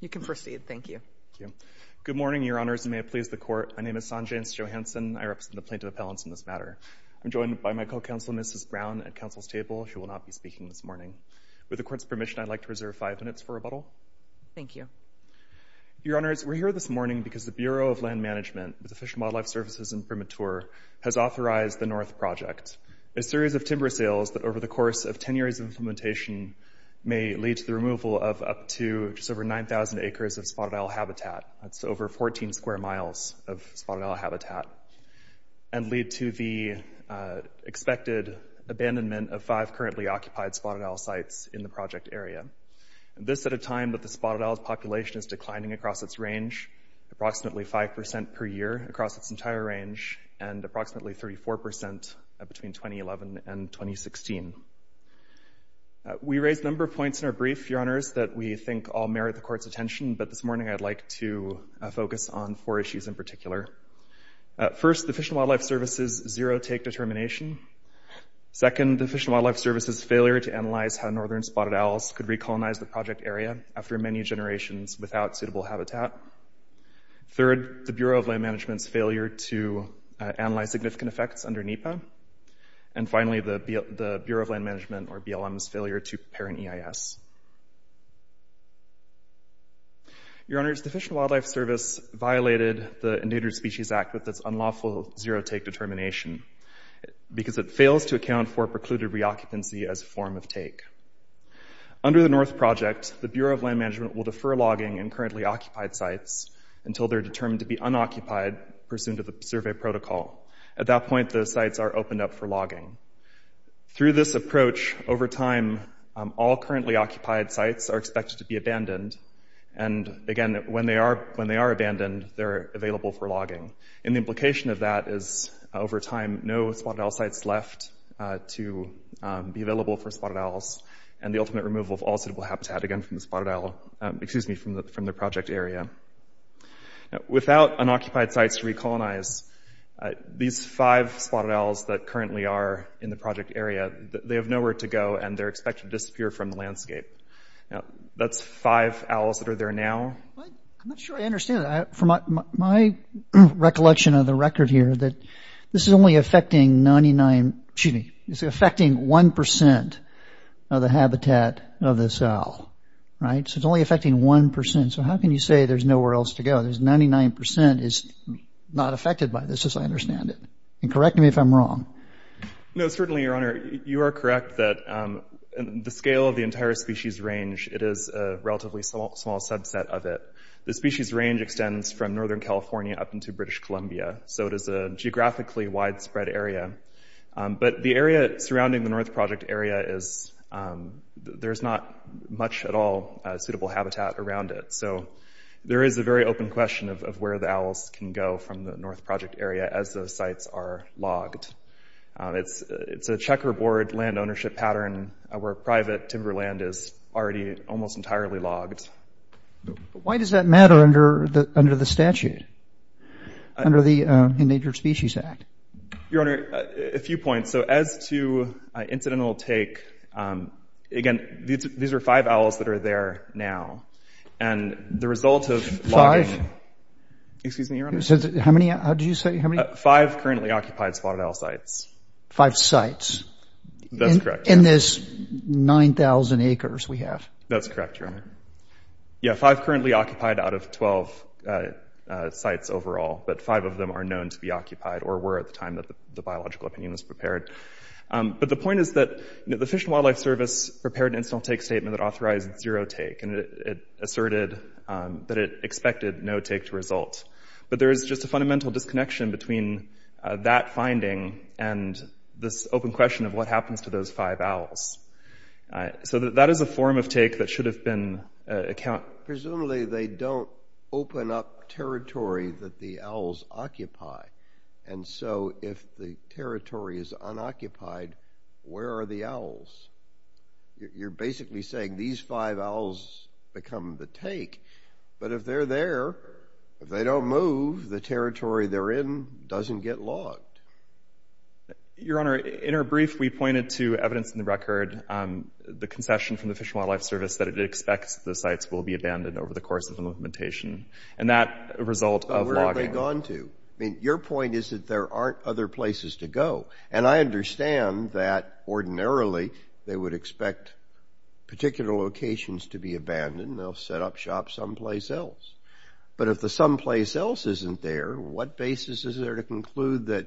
You can proceed. Thank you. Thank you. Good morning, Your Honors, and may it please the Court. My name is Sanjance Johanson. I represent the Plaintiff Appellants in this matter. I'm joined by my co-counsel, Mrs. Brown, at counsel's table. She will not be speaking this morning. With the Court's permission, I'd like to reserve five minutes for rebuttal. Thank you. Your Honor, I'm here to speak on behalf of the Plaintiff Appellants. I'm here to speak on the U.S. Department of Agriculture, has authorized the North Project, a series of timber sales that over the course of ten years of implementation may lead to the removal of up to just over 9,000 acres of spotted owl habitat. That's over 14 square miles of spotted owl habitat, and lead to the expected abandonment of five currently occupied spotted owl sites in the project area. This at a time that the spotted owl population is declining across its range, approximately 5% per year across its entire range, and approximately 34% between 2011 and 2016. We raised a number of points in our brief, Your Honors, that we think all merit the Court's attention, but this morning I'd like to focus on four issues in particular. First, the Fish and Wildlife Service's zero-take determination. Second, the Fish and Wildlife Service's failure to analyze how northern spotted owls could recolonize the project area after many generations without suitable habitat. Third, the Bureau of Land Management's failure to analyze significant effects under NEPA. And finally, the Bureau of Land Management, or BLM's, failure to parent EIS. Your Honors, the Fish and Wildlife Service violated the Endangered Species Act with its unlawful zero-take determination because it fails to account for precluded reoccupancy as a form of logging in currently occupied sites until they're determined to be unoccupied pursuant to the survey protocol. At that point, those sites are opened up for logging. Through this approach, over time, all currently occupied sites are expected to be abandoned. And again, when they are abandoned, they're available for logging. And the implication of that is, over time, no spotted owl sites left to be available for spotted owls, and the ultimate removal of all suitable habitat, again, excuse me, from the project area. Without unoccupied sites to recolonize, these five spotted owls that currently are in the project area, they have nowhere to go, and they're expected to disappear from the landscape. Now, that's five owls that are there now. I'm not sure I understand that. From my recollection of the record here, that this is affecting 1% of the habitat of this owl, right? So it's only affecting 1%. So how can you say there's nowhere else to go? There's 99% is not affected by this, as I understand it. And correct me if I'm wrong. No, certainly, Your Honor. You are correct that the scale of the entire species range, it is a relatively small subset of it. The species range extends from northern California up into British Columbia. So it is a geographically widespread area. But the area surrounding the North Project area is, there's not much at all suitable habitat around it. So there is a very open question of where the owls can go from the North Project area as those sites are logged. It's a checkerboard land ownership pattern where private timberland is already almost entirely logged. Why does that matter under the statute, under the Endangered Species Act? Your Honor, a few points. So as to incidental take, again, these are five owls that are there now. And the result of logging... Five? Excuse me, Your Honor. How many? How did you say? How many? Five currently occupied spotted owl sites. Five sites? That's correct. In this 9,000 acres we have? That's correct, Your Honor. Yeah, five currently occupied out of 12 sites overall, but five of them are known to be occupied or were at the time that the biological opinion was prepared. But the point is that the Fish and Wildlife Service prepared an incidental take statement that authorized zero take and it asserted that it expected no take to result. But there is just a fundamental disconnection between that finding and this open question of what happens to those five owls. So that is a form of take that should have been... Presumably they don't open up territory that the owls occupy. And so if the territory is unoccupied, where are the owls? You're basically saying these five owls become the take. But if they're there, if they don't move, the territory they're in doesn't get logged. Your Honor, in our brief, we pointed to evidence in the record, the concession from the Fish and Wildlife Service that it expects the sites will be abandoned over the course of the implementation. And that result of logging... Where have they gone to? I mean, your point is that there aren't other places to go. And I understand that ordinarily they would expect particular locations to be abandoned. They'll set up shops someplace else. But if the someplace else isn't there, what basis is there to conclude that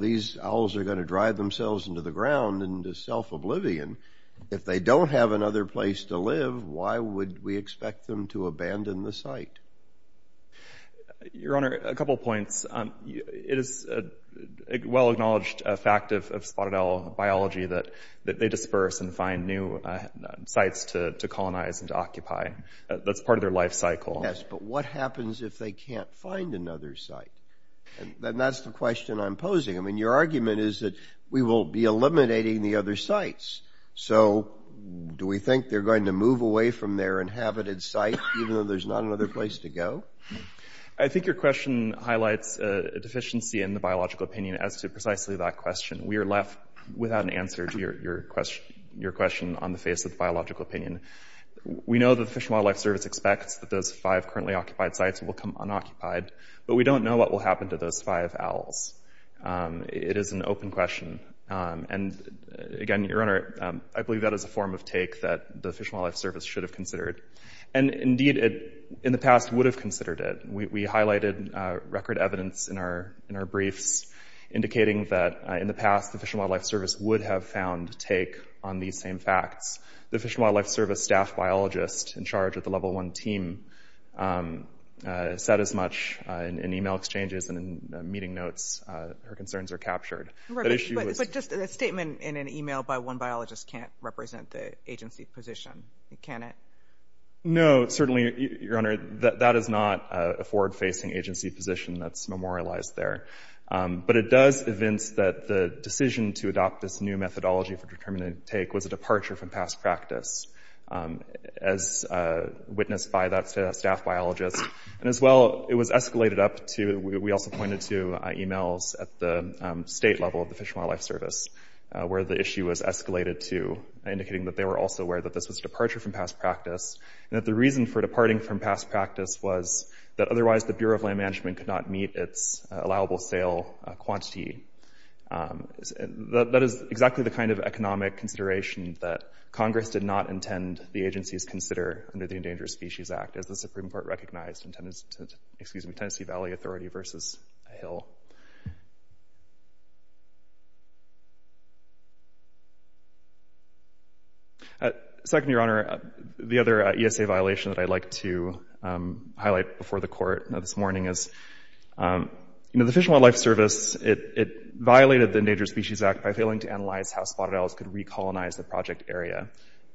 these owls are going to drive themselves into the ground into self-oblivion? If they don't have another place to live, why would we expect them to abandon the site? Your Honor, a couple of points. It is a well-acknowledged fact of spotted owl biology that they disperse and find new sites to colonize and to occupy. That's part of their life cycle. Yes, but what happens if they can't find another site? And that's the question I'm posing. I mean, your argument is that we will be eliminating the other sites. So do we think they're going to move away from their inhabited site even though there's not another place to go? I think your question highlights a deficiency in the biological opinion as to precisely that question. We are left without an answer to your question on the face of those five currently occupied sites will come unoccupied. But we don't know what will happen to those five owls. It is an open question. And again, your Honor, I believe that is a form of take that the Fish and Wildlife Service should have considered. And indeed, in the past would have considered it. We highlighted record evidence in our briefs indicating that in the past the Fish and Wildlife Service would have found take on these same facts. The Fish and Wildlife Service staff biologist in charge of the Level 1 team said as much in email exchanges and in meeting notes. Her concerns are captured. But just a statement in an email by one biologist can't represent the agency position, can it? No, certainly, your Honor, that is not a forward-facing agency position that's memorialized there. But it does evince that the decision to adopt this new methodology for determining take was a departure from past practice as witnessed by that staff biologist. And as well, it was escalated up to, we also pointed to emails at the state level of the Fish and Wildlife Service where the issue was escalated to indicating that they were also aware that this was a departure from past practice and that the reason for departing from past practice was that otherwise the Bureau of Land Management could not meet its allowable sale quantity. That is exactly the kind of economic consideration that Congress did not intend the agencies consider under the Endangered Species Act as the Supreme Court recognized in Tennessee Valley Authority versus Hill. Second, your Honor, the other ESA violation that I'd like to highlight before the Court this morning is, you know, the Fish and Wildlife Service, it violated the Endangered Species Act by failing to analyze how spotted owls could recolonize the project area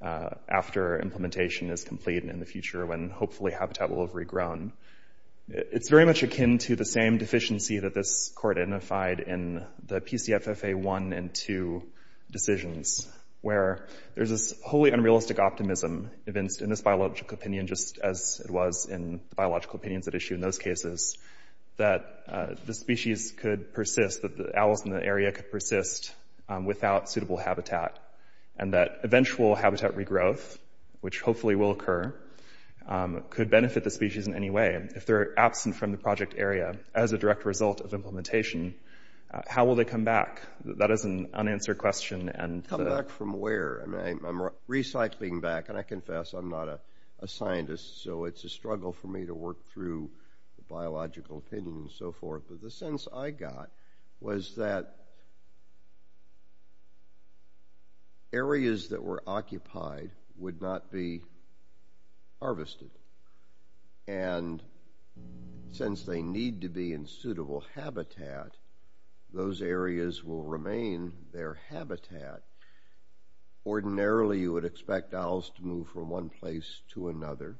after implementation is complete and in the future when hopefully habitat will have regrown. It's very much akin to the same deficiency that this Court identified in the PCFFA 1 and 2 decisions where there's this wholly unrealistic optimism evinced in this biological opinion just as it was in the biological opinions at issue in those cases that the species could persist, that the owls in the area could persist without suitable habitat and that eventual habitat regrowth, which hopefully will occur, could benefit the species in any way. If they're absent from the project area as a direct result of implementation, how will they come back? That is an unanswered question. Come back from where? I'm recycling back and I confess I'm not a scientist so it's a struggle for me to work through the biological opinion and so forth, but the sense I got was that areas that were occupied would not be harvested and since they need to be in suitable habitat, those areas will remain their habitat. Ordinarily you would expect owls to move from one place to another,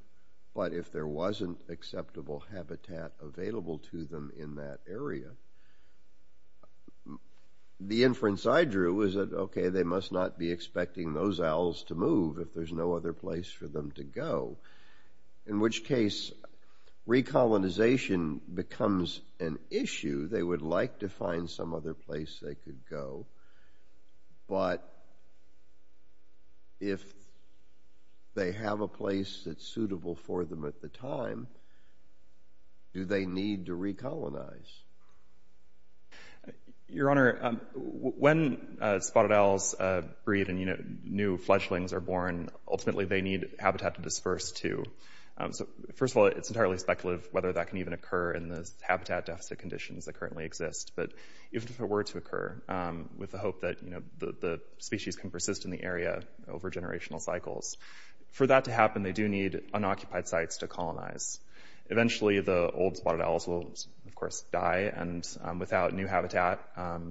but if there wasn't acceptable habitat available to them in that area, the inference I drew was that, okay, they must not be expecting those owls to move if there's no other place for them to go, in which case recolonization becomes an issue. They would like to find some other place they could go, but if they have a place that's suitable for them at the time, do they need to recolonize? Your Honor, when spotted owls breed and new fledglings are born, ultimately they need habitat to disperse to. So first of all, it's entirely speculative whether that can even occur in the habitat deficit conditions that currently exist, but if it were to occur with the hope that the species can persist in the area over generational cycles, for that to happen they do need unoccupied sites to colonize. Eventually the old spotted owls will, of course, die and without new habitat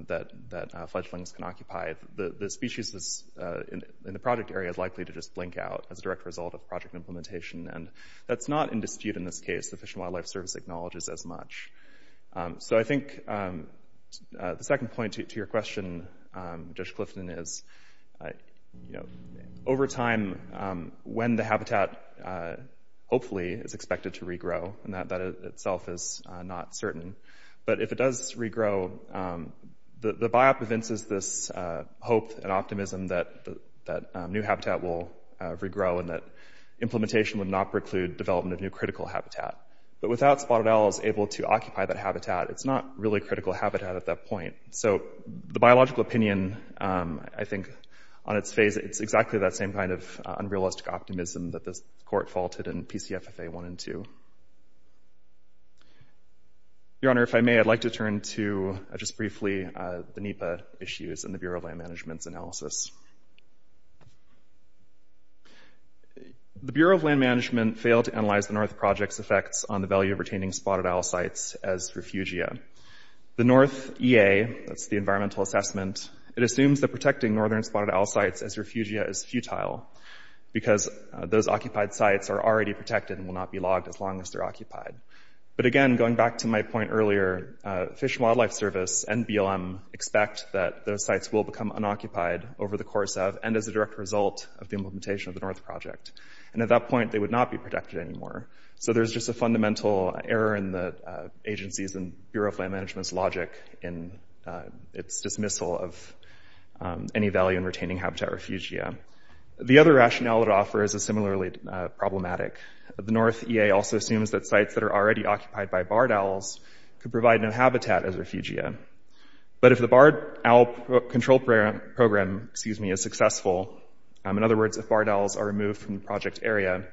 that fledglings can occupy, the species in the project area is likely to just blink out as a direct result of project implementation and that's not in dispute in this case. The Fish and Wildlife Service acknowledges as much. So I think the second point to your question, Judge Clifton, is over time when the habitat hopefully is expected to regrow, and that itself is not certain, but if it does regrow, the biop evinces this hope and optimism that new habitat will regrow and that development of new critical habitat. But without spotted owls able to occupy that habitat, it's not really critical habitat at that point. So the biological opinion, I think, on its face, it's exactly that same kind of unrealistic optimism that this court faulted in PCFFA 1 and 2. Your Honor, if I may, I'd like to turn to just briefly the NEPA issues and the Bureau of Land Management failed to analyze the North Project's effects on the value of retaining spotted owl sites as refugia. The North EA, that's the environmental assessment, it assumes that protecting northern spotted owl sites as refugia is futile because those occupied sites are already protected and will not be logged as long as they're occupied. But again, going back to my point earlier, Fish and Wildlife Service and BLM expect that those sites will become unoccupied over the course of and as a direct result of the implementation of the North Project. And at that point, they would not be protected anymore. So there's just a fundamental error in the agency's and Bureau of Land Management's logic in its dismissal of any value in retaining habitat refugia. The other rationale it offers is similarly problematic. The North EA also assumes that sites that are already occupied by barred owls could provide new habitat as refugia. But if the barred owl control program is successful, in other words, if barred owls are moved from the project area,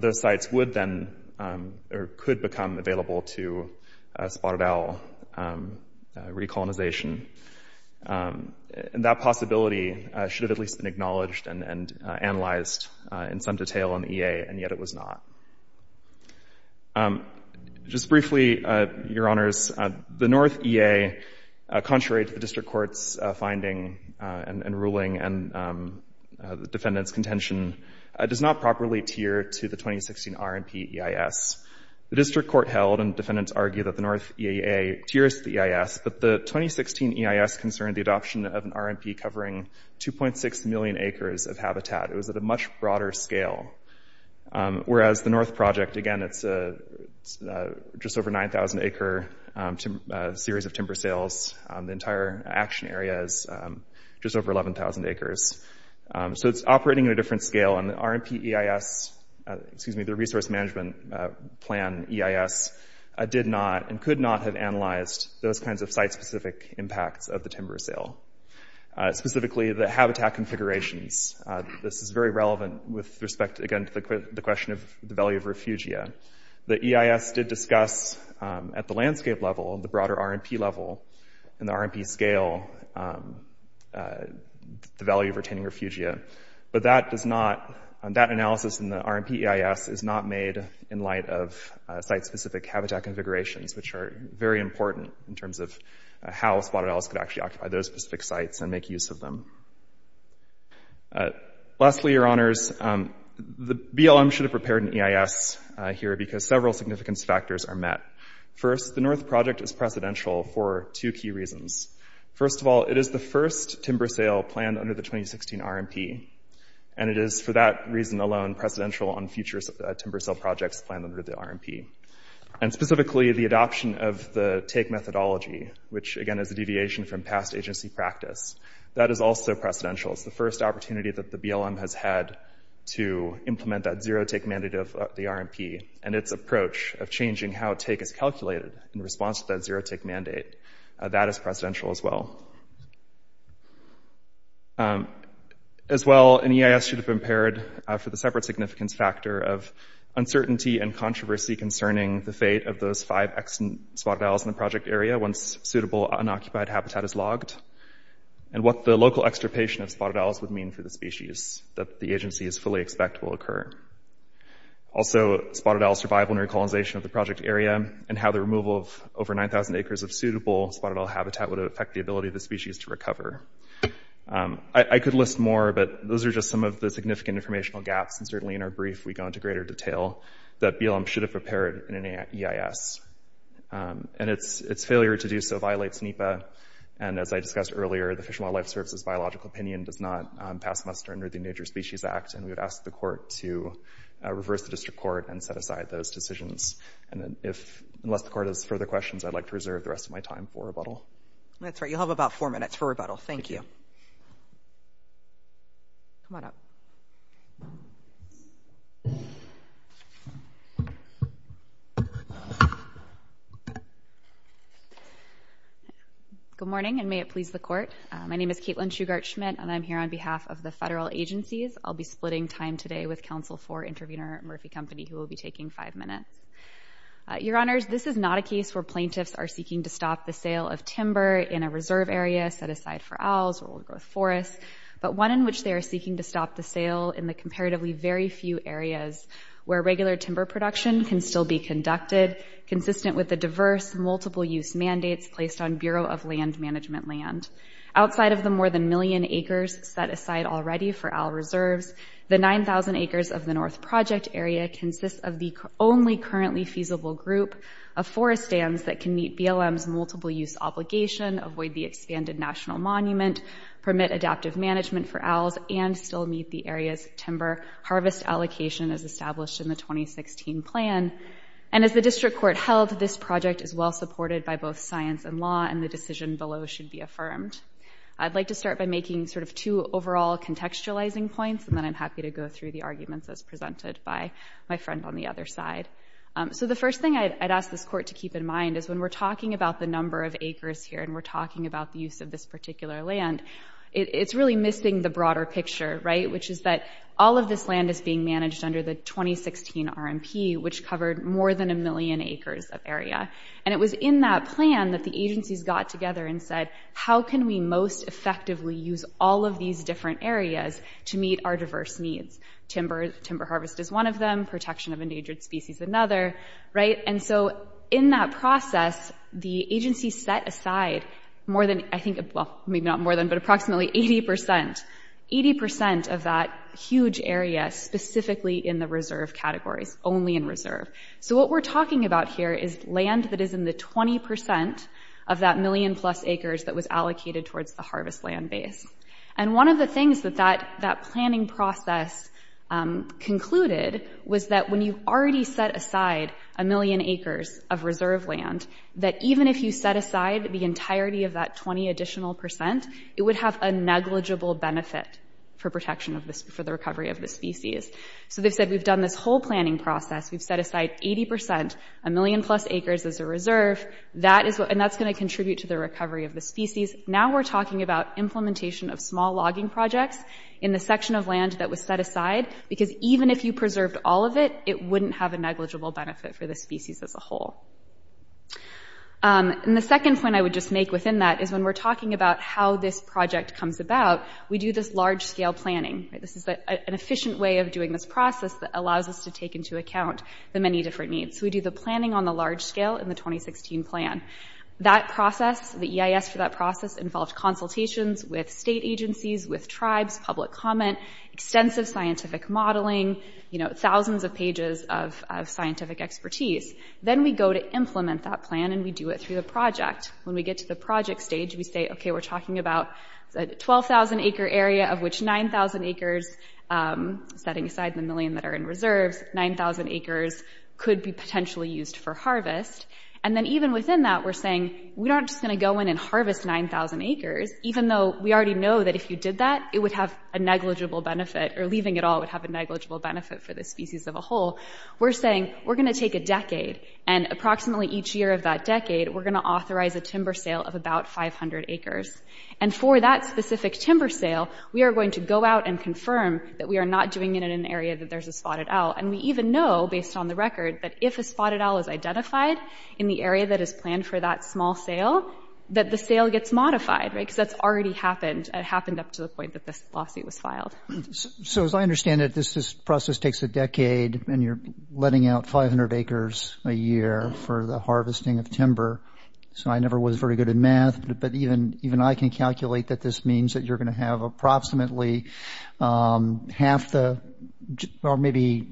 those sites would then or could become available to spotted owl recolonization. And that possibility should have at least been acknowledged and analyzed in some detail in the EA, and yet it was not. Just briefly, your honors, the North EA, contrary to the district court's finding and ruling and the defendant's contention, does not properly tier to the 2016 RNP EIS. The district court held and defendants argued that the North EA tiers the EIS, but the 2016 EIS concerned the adoption of an RNP covering 2.6 million acres of habitat. It was at a much broader scale. Whereas the North Project, again, it's just over 9,000 acre series of timber sales. The entire action area is just over 11,000 acres. So it's operating at a different scale. And the RNP EIS, excuse me, the Resource Management Plan EIS did not and could not have analyzed those kinds of site-specific impacts of the timber sale. Specifically, the habitat configurations. This is very relevant with respect, again, the question of the value of refugia. The EIS did discuss at the landscape level, the broader RNP level, and the RNP scale, the value of retaining refugia. But that analysis in the RNP EIS is not made in light of site-specific habitat configurations, which are very important in terms of how spotted owls could actually occupy those specific sites and make use of them. Lastly, your honors, the BLM should have prepared an EIS here because several significance factors are met. First, the North Project is precedential for two key reasons. First of all, it is the first timber sale planned under the 2016 RNP. And it is, for that reason alone, precedential on future timber sale projects planned under the RNP. And specifically, the is also precedential. It's the first opportunity that the BLM has had to implement that zero-take mandate of the RNP and its approach of changing how take is calculated in response to that zero-take mandate. That is precedential as well. As well, an EIS should have prepared for the separate significance factor of uncertainty and controversy concerning the fate of those five spotted owls in the project area once suitable unoccupied habitat is logged and what the local extirpation of spotted owls would mean for the species that the agencies fully expect will occur. Also, spotted owl survival and recolonization of the project area and how the removal of over 9,000 acres of suitable spotted owl habitat would affect the ability of the species to recover. I could list more, but those are just some of the significant informational gaps. And certainly in our brief, we go into greater detail that BLM should have prepared in an EIS. And its failure to do so violates NEPA. And as I discussed earlier, the Fish and Wildlife Service's biological opinion does not pass muster under the Endangered Species Act. And we would ask the court to reverse the district court and set aside those decisions. And unless the court has further questions, I'd like to reserve the rest of my time for rebuttal. That's right. You can. Good morning, and may it please the court. My name is Caitlin Shugart Schmidt, and I'm here on behalf of the federal agencies. I'll be splitting time today with counsel for intervener Murphy Company, who will be taking five minutes. Your honors, this is not a case where plaintiffs are seeking to stop the sale of timber in a reserve area set aside for owls or growth forests, but one in which they are seeking to stop the sale in the comparatively very few areas where regular timber production can still be conducted, consistent with the diverse multiple-use mandates placed on Bureau of Land Management land. Outside of the more than million acres set aside already for owl reserves, the 9,000 acres of the North Project area consists of the only currently feasible group of forest stands that can meet BLM's multiple-use obligation, avoid the expanded National Monument, permit adaptive management for owls, and still meet the area's timber harvest allocation as established in the 2016 plan. And as the district court held, this project is well-supported by both science and law, and the decision below should be affirmed. I'd like to start by making sort of two overall contextualizing points, and then I'm happy to go through the arguments as presented by my friend on the other side. So the first thing I'd ask this court to keep in mind is when we're talking about the number of acres here and we're talking about the use of this particular land, it's really missing the broader picture, right, which is that all of this land is being managed under the 2016 RMP, which covered more than a million acres of area. And it was in that plan that the agencies got together and said, how can we most effectively use all of these different areas to meet our diverse needs? Timber harvest is one of them, protection of endangered species another, right? And so in that process, the agency set aside more than, I think, well, maybe not more than, but approximately 80 percent, 80 percent of that huge area specifically in the reserve categories, only in reserve. So what we're talking about here is land that is in the 20 percent of that million plus acres that was allocated towards the harvest land base. And one of the things that that planning process concluded was that when you already set aside a million acres of reserve land, that even if you set aside the entirety of that 20 additional percent, it would have a negligible benefit for protection of this, for the recovery of the species. So they've said we've done this whole planning process, we've set aside 80 percent, a million plus acres as a reserve, that is what, and that's going to contribute to the recovery of the species. Now we're talking about implementation of small logging projects in the section of land that was set aside because even if you preserved all of it, it wouldn't have a negligible benefit for the species as a whole. And the second point I would just make within that is when we're talking about how this project comes about, we do this large-scale planning. This is an efficient way of doing this process that allows us to take into account the many different needs. We do the planning on the large scale in the 2016 plan. That process, the EIS for that process involved consultations with state agencies, with tribes, public comment, extensive scientific modeling, you know, thousands of pages of scientific expertise. Then we go to implement that plan and we do it through the project. When we get to the project stage, we say, okay, we're talking about a 12,000 acre area of which 9,000 acres, setting aside the million that are in reserves, 9,000 acres could be potentially used for harvest. And then even within that, we're saying we aren't just going to go in and harvest 9,000 acres, even though we already know that if you did that, it would have a negligible benefit or leaving it all would have a negligible benefit for the species of a whole. We're saying we're going to take a decade and approximately each year of that decade, we're going to authorize a timber sale of about 500 acres. And for that specific timber sale, we are going to go out and confirm that we are not doing it in an area that there's a spotted owl. And we even know, based on the record, that if a spotted owl is identified in the area that is planned for that small sale, that the sale gets modified, right? Because that's already happened. It happened up to the point that this lawsuit was filed. So as I understand it, this process takes a decade and you're letting out 500 acres a year for the harvesting of timber. So I never was very good at math, but even I can calculate that this means that you're going to have approximately half the, or maybe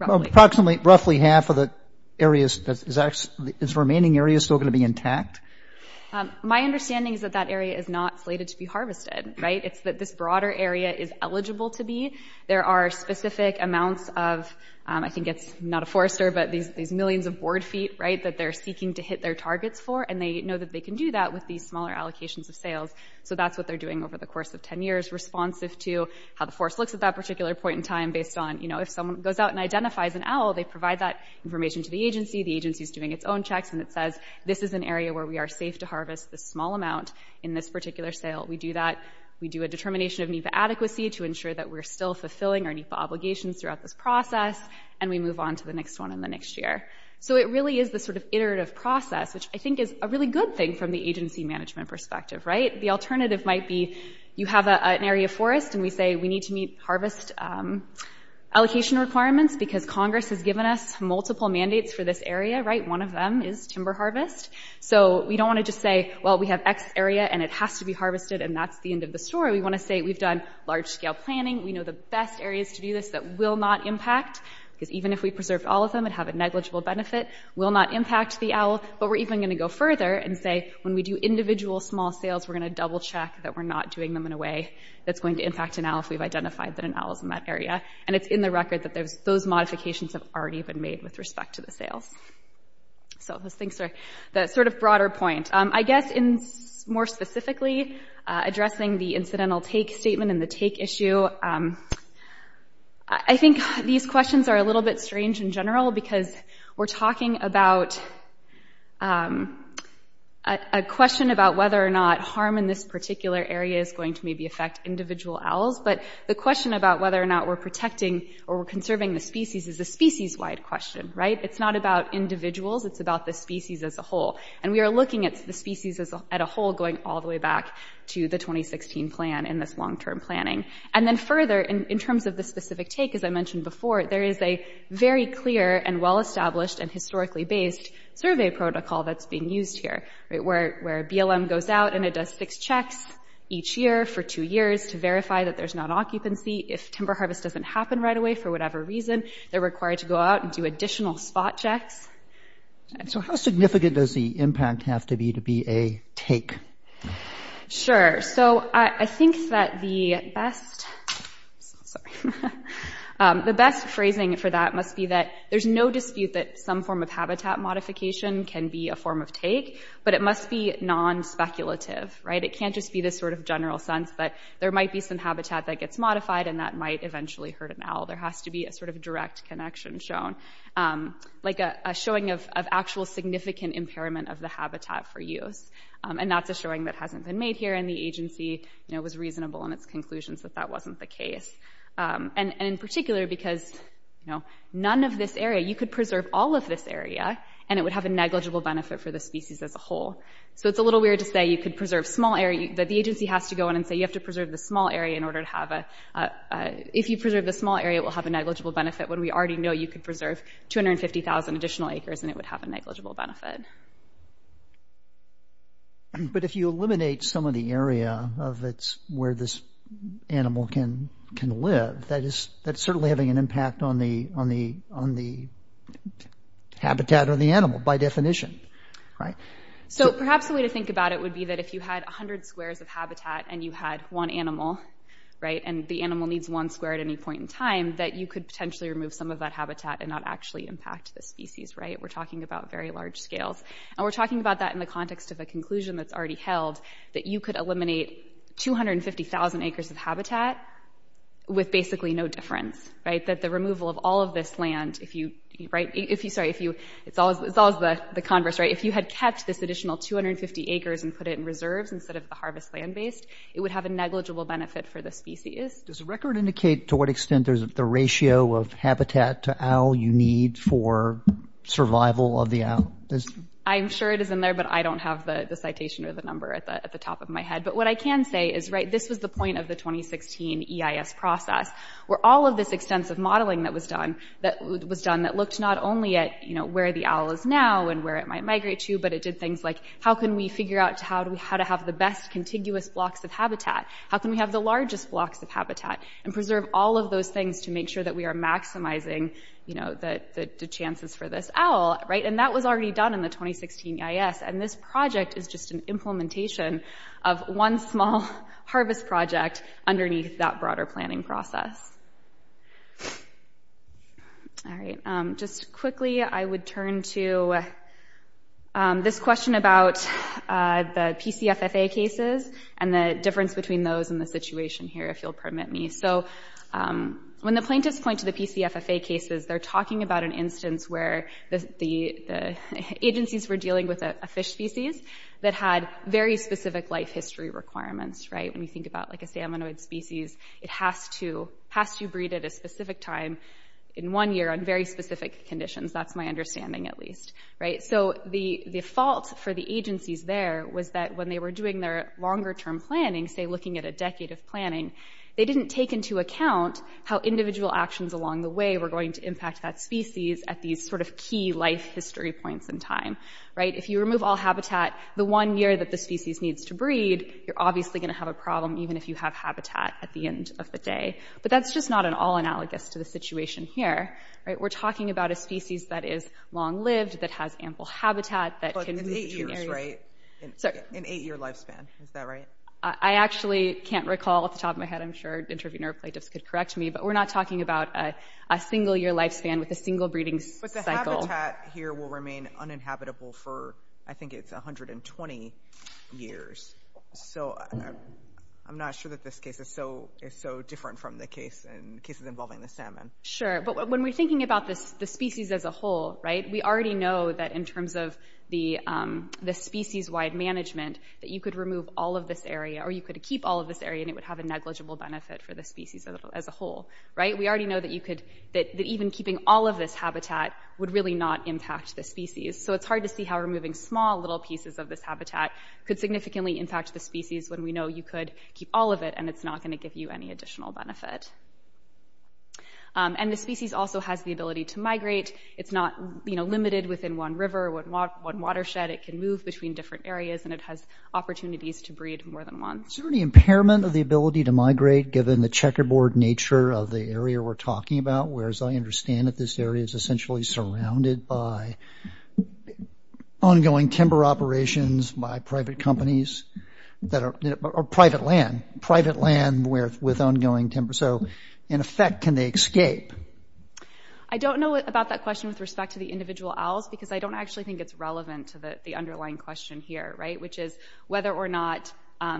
approximately roughly half of the areas that is actually remaining areas still going to be intact. My understanding is that that area is not slated to be harvested, right? It's that this broader area is eligible to be. There are specific amounts of, I think it's not a forester, but these millions of board feet, right, that they're seeking to hit their targets for. And they know that they can do that with these smaller allocations of sales. So that's what they're doing over the course of 10 years responsive to how the forest looks at that particular point in time based on, you know, if someone goes out and identifies an owl, they provide that information to the agency. The agency is doing its own checks and it says, this is an area where we are safe to harvest this small amount in this particular sale. We do that. We do a determination of NEPA adequacy to ensure that we're still fulfilling our NEPA obligations throughout this process. And we move on to the next one in the next year. So it really is this sort of iterative process, which I think is a really good thing from the agency management perspective, right? The alternative might be you have an area forest and we say, we need to meet harvest allocation requirements because Congress has given us multiple mandates for this area, right? One of them is timber harvest. So we don't want to just say, well, we have X area and it has to be harvested and that's the end of the story. We want to say, we've done large scale planning. We know the best areas to do this that will not impact, because even if we preserved all of them, it'd have a negligible benefit, will not impact the owl. But we're even going to go further and say, when we do individual small sales, we're going to double check that we're not doing them in a way that's going to impact an owl if we've identified that an owl is in that area. And it's in the record that those modifications have already been made with respect to the sales. So those things are the sort of broader point. I guess in more specifically addressing the incidental take statement and the take issue, I think these questions are a little bit strange in general because we're in this particular area is going to maybe affect individual owls. But the question about whether or not we're protecting or we're conserving the species is a species wide question, right? It's not about individuals. It's about the species as a whole. And we are looking at the species as a whole, going all the way back to the 2016 plan in this long-term planning. And then further in terms of the specific take, as I mentioned before, there is a very clear and well-established and historically based survey protocol that's being used here, right? Where a BLM goes out and it does six checks each year for two years to verify that there's not occupancy. If timber harvest doesn't happen right away for whatever reason, they're required to go out and do additional spot checks. So how significant does the impact have to be to be a take? Sure. So I think that the best, sorry, the best phrasing for that must be that there's no dispute that some form of habitat modification can be a form of take, but it must be non-speculative, right? It can't just be this sort of general sense, but there might be some habitat that gets modified and that might eventually hurt an owl. There has to be a sort of direct connection shown, like a showing of actual significant impairment of the habitat for use. And that's a showing that hasn't been made here and the agency was reasonable in its conclusions that wasn't the case. And in particular, because none of this area, you could preserve all of this area and it would have a negligible benefit for the species as a whole. So it's a little weird to say you could preserve small area, but the agency has to go in and say, you have to preserve the small area in order to have a, if you preserve the small area, it will have a negligible benefit when we already know you could preserve 250,000 additional acres and it would have a negligible benefit. But if you eliminate some of the area of where this animal can live, that is, that's certainly having an impact on the habitat or the animal by definition, right? So perhaps the way to think about it would be that if you had 100 squares of habitat and you had one animal, right, and the animal needs one square at any point in time, that you could potentially remove some of that habitat and not actually impact the species, right? We're talking about very large scales and we're talking about that in the context of a conclusion that's already held that you could eliminate 250,000 acres of habitat with basically no difference, right? That the removal of all of this land, if you, right, if you, sorry, if you, it's always, it's always the converse, right? If you had kept this additional 250 acres and put it in reserves instead of the harvest land-based, it would have a negligible benefit for the species. Does the record indicate to what extent there's the ratio of habitat to owl you need for survival of the owl? I'm sure it is in there, but I don't have the citation or the number at the top of my head. But what I can say is, right, this was the point of the 2016 EIS process, where all of this extensive modeling that was done, that was done, that looked not only at, you know, where the owl is now and where it might migrate to, but it did things like, how can we figure out how to have the best contiguous blocks of habitat? How can we have the largest blocks of habitat and preserve all of those things to make sure that we are maximizing, you know, the chances for this owl, right? And that was already done in the 2016 EIS, and this project is just an implementation of one small harvest project underneath that broader planning process. All right, just quickly, I would turn to this question about the PCFFA cases and the difference between those and the situation here, if you'll permit me. So when the plaintiffs point to the PCFFA cases, they're talking about an instance where the agencies were dealing with a fish species that had very specific life history requirements, right? When you think about, like, a salmonoid species, it has to breed at a specific time in one year on very specific conditions. That's my understanding, at least, right? So the fault for the agencies there was that when they were doing their longer-term planning, say looking at a decade of planning, they didn't take into account how individual actions along the way were going to impact that species at these sort of key life history points in time, right? If you remove all habitat the one year that the species needs to breed, you're obviously going to have a problem even if you have habitat at the end of the day. But that's just not at all analogous to the situation here, right? We're talking about a lifespan, is that right? I actually can't recall off the top of my head. I'm sure interviewer plaintiffs could correct me, but we're not talking about a single-year lifespan with a single breeding cycle. But the habitat here will remain uninhabitable for, I think it's 120 years. So I'm not sure that this case is so different from the cases involving the salmon. Sure, but when we're thinking about the species as a whole, right, we already know that in terms of the species-wide management, that you could remove all of this area or you could keep all of this area and it would have a negligible benefit for the species as a whole, right? We already know that even keeping all of this habitat would really not impact the species. So it's hard to see how removing small little pieces of this habitat could significantly impact the species when we know you could keep all of it and it's not going to give you any additional benefit. And the species also has the ability to migrate. It's not, you know, limited within one river, one watershed. It can move between different areas and it has opportunities to breed more than one. Is there any impairment of the ability to migrate given the checkerboard nature of the area we're talking about, whereas I understand that this area is essentially surrounded by ongoing timber operations by private companies that are – or private land, private land with ongoing timber. So in effect, can they escape? I don't know about that question with respect to the individual owls because I don't actually think it's relevant to the underlying question here, right, which is whether or not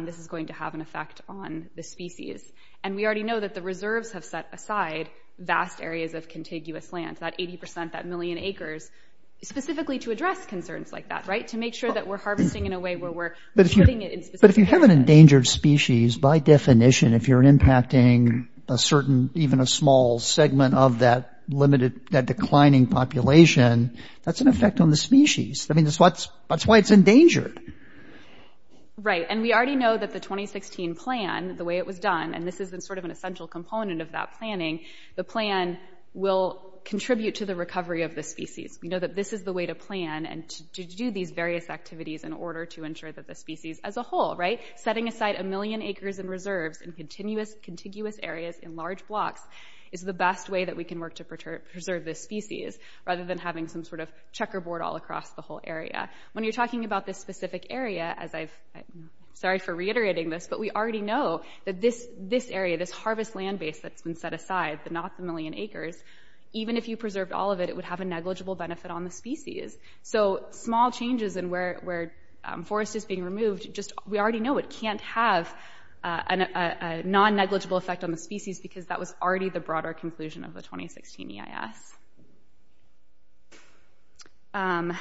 this is going to have an effect on the species. And we already know that the reserves have set aside vast areas of contiguous land, that 80 percent, that million acres, specifically to address concerns like that, right, to make sure that we're harvesting in a way where we're putting it in specific areas. But if you have an endangered species, by definition, if you're impacting a certain – even a small segment of that limited – that declining population, that's an effect on the species. I mean, that's why it's endangered. Right. And we already know that the 2016 plan, the way it was done – and this is sort of an essential component of that planning – the plan will contribute to the recovery of the species. We know that this is the way to plan and to do these various activities in order to ensure that species as a whole, right, setting aside a million acres and reserves in continuous areas in large blocks is the best way that we can work to preserve this species rather than having some sort of checkerboard all across the whole area. When you're talking about this specific area, as I've – sorry for reiterating this, but we already know that this area, this harvest land base that's been set aside, the not the million acres, even if you preserved all of it, it would have a negligible benefit on the species. So small changes in where forest is being removed, just – we already know it can't have a non-negligible effect on the species because that was already the broader conclusion of the 2016 EIS.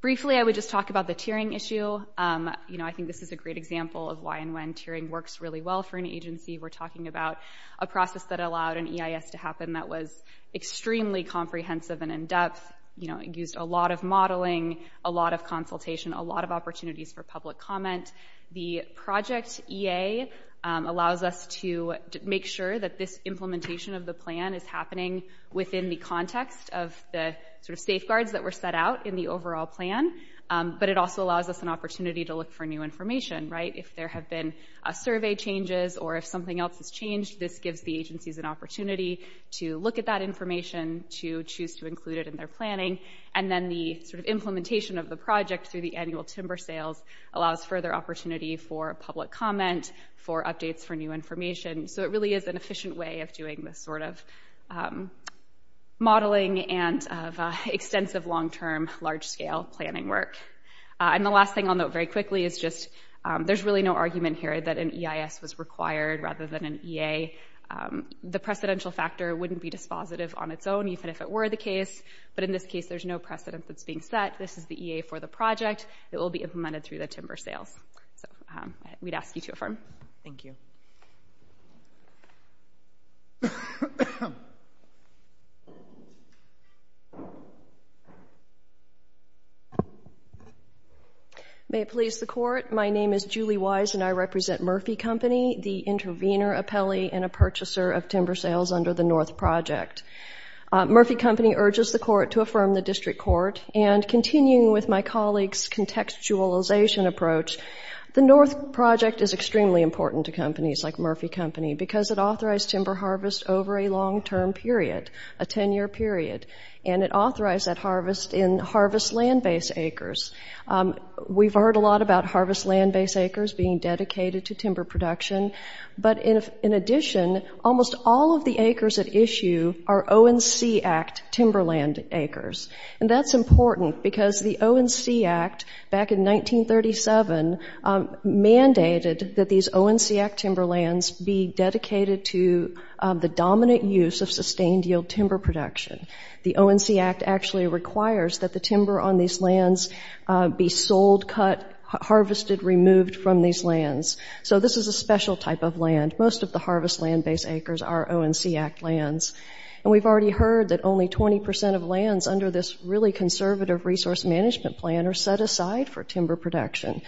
Briefly, I would just talk about the tiering issue. You know, I think this is a great example of why and when tiering works really well for an agency. We're talking about a process that allowed an EIS to happen that was extremely comprehensive and in-depth, you know, used a lot of modeling, a lot of consultation, a lot of opportunities for public comment. The project EA allows us to make sure that this implementation of the plan is happening within the context of the sort of safeguards that were set out in the overall plan, but it also allows us an opportunity to look for new information, right? If there have been survey changes or if something else has changed, this gives the agencies an opportunity to look at that information, to choose to include it in their planning, and then the sort of implementation of the project through the annual timber sales allows further opportunity for public comment, for updates, for new information. So it really is an efficient way of doing this sort of modeling and of extensive long-term, large-scale planning work. And the last thing I'll note very quickly is just there's really no argument here that an EIS was required rather than an EA. The precedential factor wouldn't be dispositive on its own even if it were the case, but in this case there's no precedent that's being set. This is the EA for the project. It will be implemented through the timber sales. So we'd ask you to affirm. Thank you. Julie Wise May it please the Court, my name is Julie Wise and I represent Murphy Company, the intervener, appellee, and a purchaser of timber sales under the North Project. Murphy Company urges the Court to affirm the District Court, and continuing with my colleague's contextualization approach, the North Project is extremely important to companies like Murphy Company because it authorized timber harvest over a long-term period, a 10-year period, and it authorized that harvest in harvest land-based acres. We've heard a lot about harvest land-based acres being dedicated to timber production, but in addition, almost all of the acres at issue are ONC Act timberland acres. And that's important because the ONC Act back in 1937 mandated that these ONC Act timber lands be dedicated to the dominant use of sustained yield timber production. The ONC Act actually requires that the timber on these lands be sold, cut, harvested, removed from these lands. So this is a special type of land. Most of the harvest land-based acres are ONC Act lands. And we've already heard that only 20 percent of lands under this really conservative resource management plan are set aside for timber production.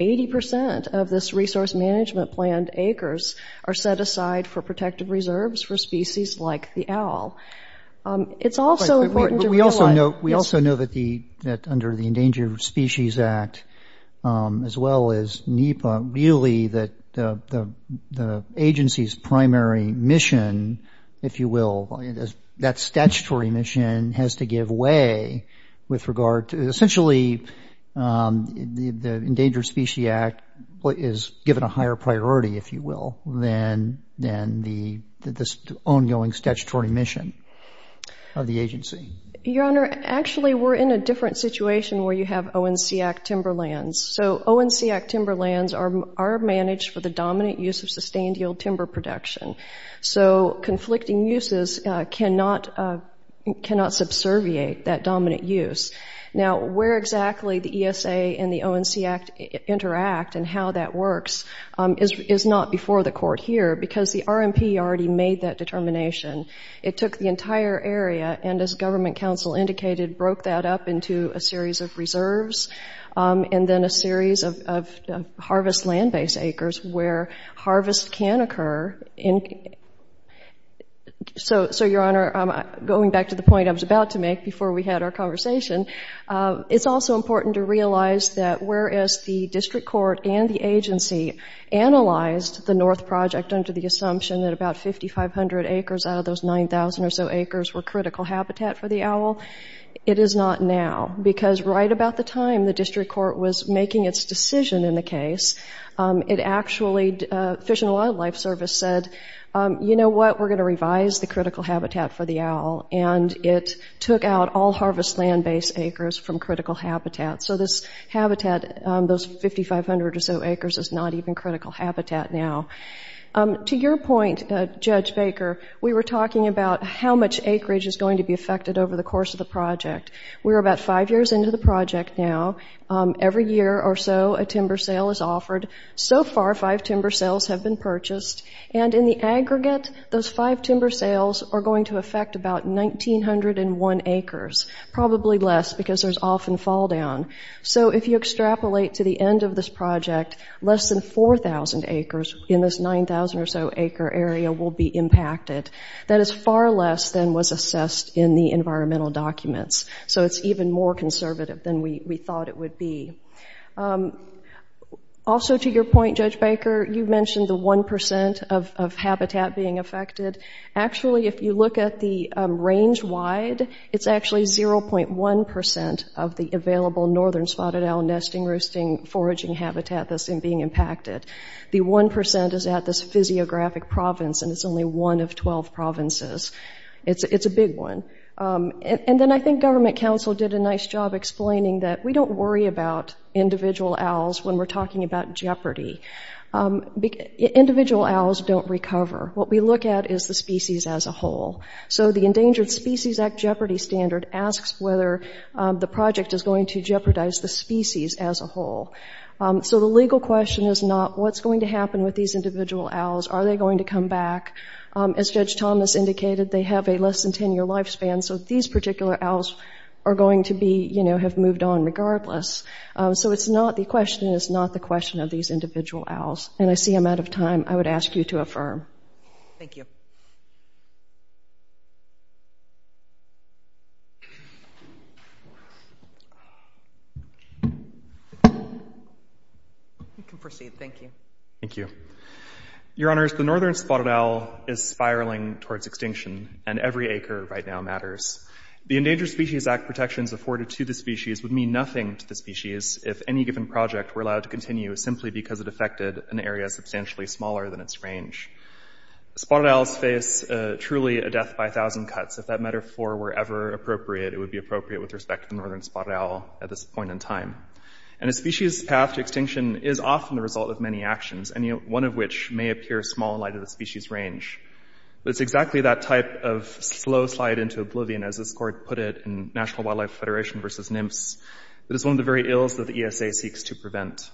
Eighty percent of this resource management plan acres are set aside for protective reserves for species like the owl. It's also important to realize... But we also know that under the Endangered Species Act, as well as NEPA, really that the agency's primary mission, if you will, that statutory mission has to give way with regard to... Essentially, the Endangered Species Act is given a higher priority, if you will, than the ongoing statutory mission of the agency. Your Honor, actually we're in a different situation where you have ONC Act timber lands. So ONC Act timber lands are managed for the dominant use of sustained yield timber production. So conflicting uses cannot subservient that dominant use. Now, where exactly the ESA and the ONC Act interact and how that works is not before the Court here because the RMP already made that determination. It took the entire area and, as Government Council indicated, broke that up into a series of reserves and then a series of harvest land-based acres where harvest can occur. So, Your Honor, going back to the point I was about to make before we had our conversation, it's also important to realize that whereas the District Court and the agency analyzed the North Project under the assumption that about 5,500 acres out of those 9,000 or so acres were critical habitat for the owl, it is not now because right about the time the District Court was making its decision in the case, Fish and Wildlife Service said, you know what, we're going to revise the critical habitat for the owl and it took out all harvest land-based acres from critical habitat. So this habitat, those 5,500 or so acres, is not even critical habitat now. To your point, Judge Baker, we were talking about how much acreage is going to over the course of the project. We're about five years into the project now. Every year or so, a timber sale is offered. So far, five timber sales have been purchased and, in the aggregate, those five timber sales are going to affect about 1,901 acres, probably less because there's often fall down. So if you extrapolate to the end of this project, less than 4,000 acres in this 9,000 or so acre area will be impacted. That is far less than was assessed in the environmental documents. So it's even more conservative than we thought it would be. Also to your point, Judge Baker, you mentioned the 1% of habitat being affected. Actually, if you look at the range-wide, it's actually 0.1% of the available northern spotted owl nesting, roosting, foraging habitat that's being impacted. The 1% is at this physiographic province, and it's only one of 12 provinces. It's a big one. And then I think government counsel did a nice job explaining that we don't worry about individual owls when we're talking about jeopardy. Individual owls don't recover. What we look at is the species as a whole. So the Endangered Species Act Jeopardy Standard asks whether the project is going to jeopardize the species as a whole. So the legal question is not, what's going to happen with these individual owls? Are they going to come back? As Judge Thomas indicated, they have a less than 10-year lifespan, so these particular owls are going to be, you know, have moved on regardless. So it's not the question, and it's not the question of these individual owls. And I see I'm out of time. I would ask you to affirm. Thank you. You can proceed. Thank you. Thank you. Your Honors, the northern spotted owl is spiraling towards extinction, and every acre right now matters. The Endangered Species Act protections afforded to the species would mean nothing to the species if any given project were allowed to continue simply because it affected an area substantially smaller than its range. Spotted owls face truly a death by a thousand cuts. If that metaphor were ever appropriate, it would be appropriate with respect to the northern spotted owl at this point in time. And a species' path to extinction is often the result of many actions, any one of which may appear small in light of the species' range. But it's exactly that type of slow slide into oblivion, as this court put it in National Wildlife Federation versus that it's one of the very ills that the ESA seeks to prevent.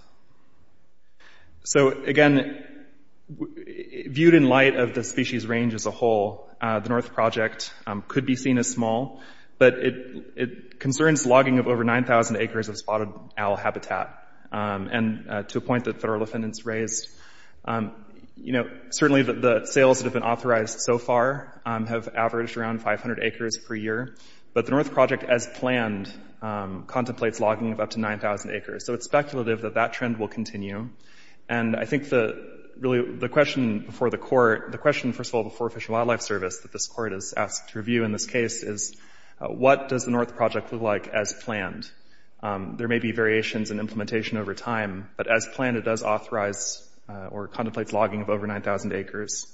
So again, viewed in light of the species' range as a whole, the North Project could be seen as small, but it concerns logging of over 9,000 acres of spotted owl habitat. And to a point that federal defendants raised, you know, certainly the sales that have been authorized so far have averaged around 500 acres per year. But the North Project, as planned, contemplates logging of up to 9,000 acres. So it's speculative that that trend will continue. And I think the question before the court, the question, first of all, before Fish and Wildlife Service that this court has asked to review in this case is, what does the North Project look like as planned? There may be variations in implementation over time, but as planned, it does authorize or contemplates logging of over 9,000 acres.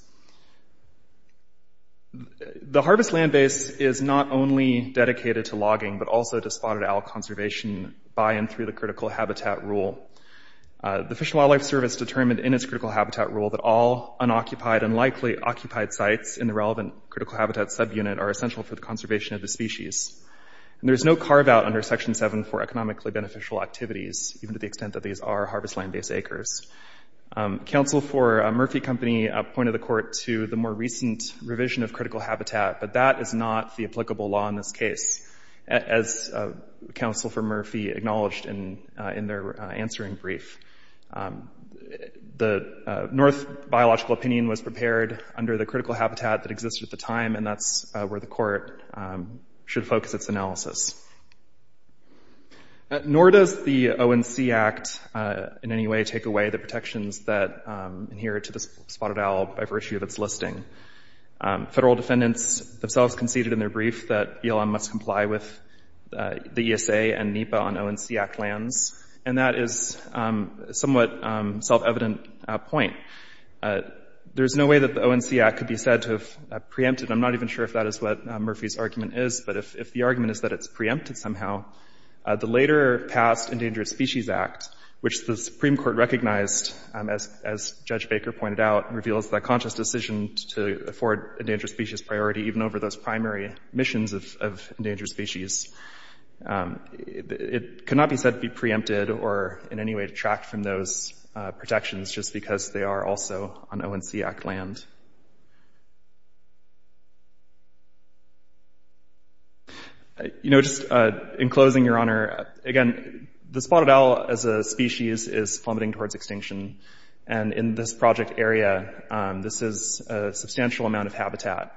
The harvest land base is not only dedicated to logging, but also to spotted owl conservation by and through the critical habitat rule. The Fish and Wildlife Service determined in its critical habitat rule that all unoccupied and likely occupied sites in the relevant critical habitat subunit are essential for the conservation of the species. And there's no carve out under Section 7 for economically beneficial activities, even to the extent that these are harvest land base acres. Counsel for Murphy Company appointed the court to the more recent revision of critical habitat, but that is not the applicable law in this case, as counsel for Murphy acknowledged in their answering brief. The North biological opinion was prepared under the critical habitat that existed at the time, and that's where the court should focus its analysis. Nor does the ONC Act in any way take away the protections that adhere to the spotted owl by virtue of its listing. Federal defendants themselves conceded in their brief that BLM must comply with the ESA and NEPA on ONC Act lands, and that is a somewhat self-evident point. There's no way that the ONC Act could be said to have preempted, I'm not even sure if that is what Murphy's argument is, but if the argument is that it's preempted somehow, the later past Endangered Species Act, which the Supreme Court recognized, as Judge Baker pointed out, reveals that conscious decision to afford endangered species priority even over those primary missions of endangered species, it cannot be said to be preempted or in any way tracked from those protections just because they are also on ONC Act land. You know, just in closing, Your Honor, again, the spotted owl as a species is plummeting towards extinction, and in this project area, this is a substantial amount of habitat,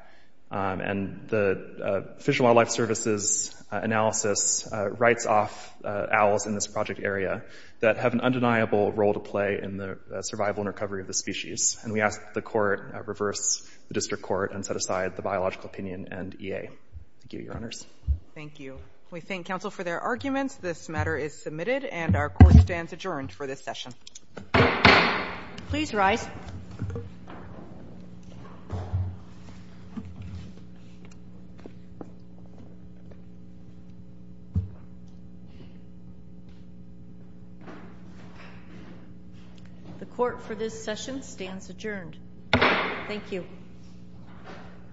and the Fish and Wildlife Service's analysis writes off owls in this project area that have an undeniable role to play in the survival and recovery of the species, and we ask that the Thank you. We thank counsel for their arguments. This matter is submitted, and our court stands adjourned for this session. Please rise. The court for this session stands adjourned. Thank you.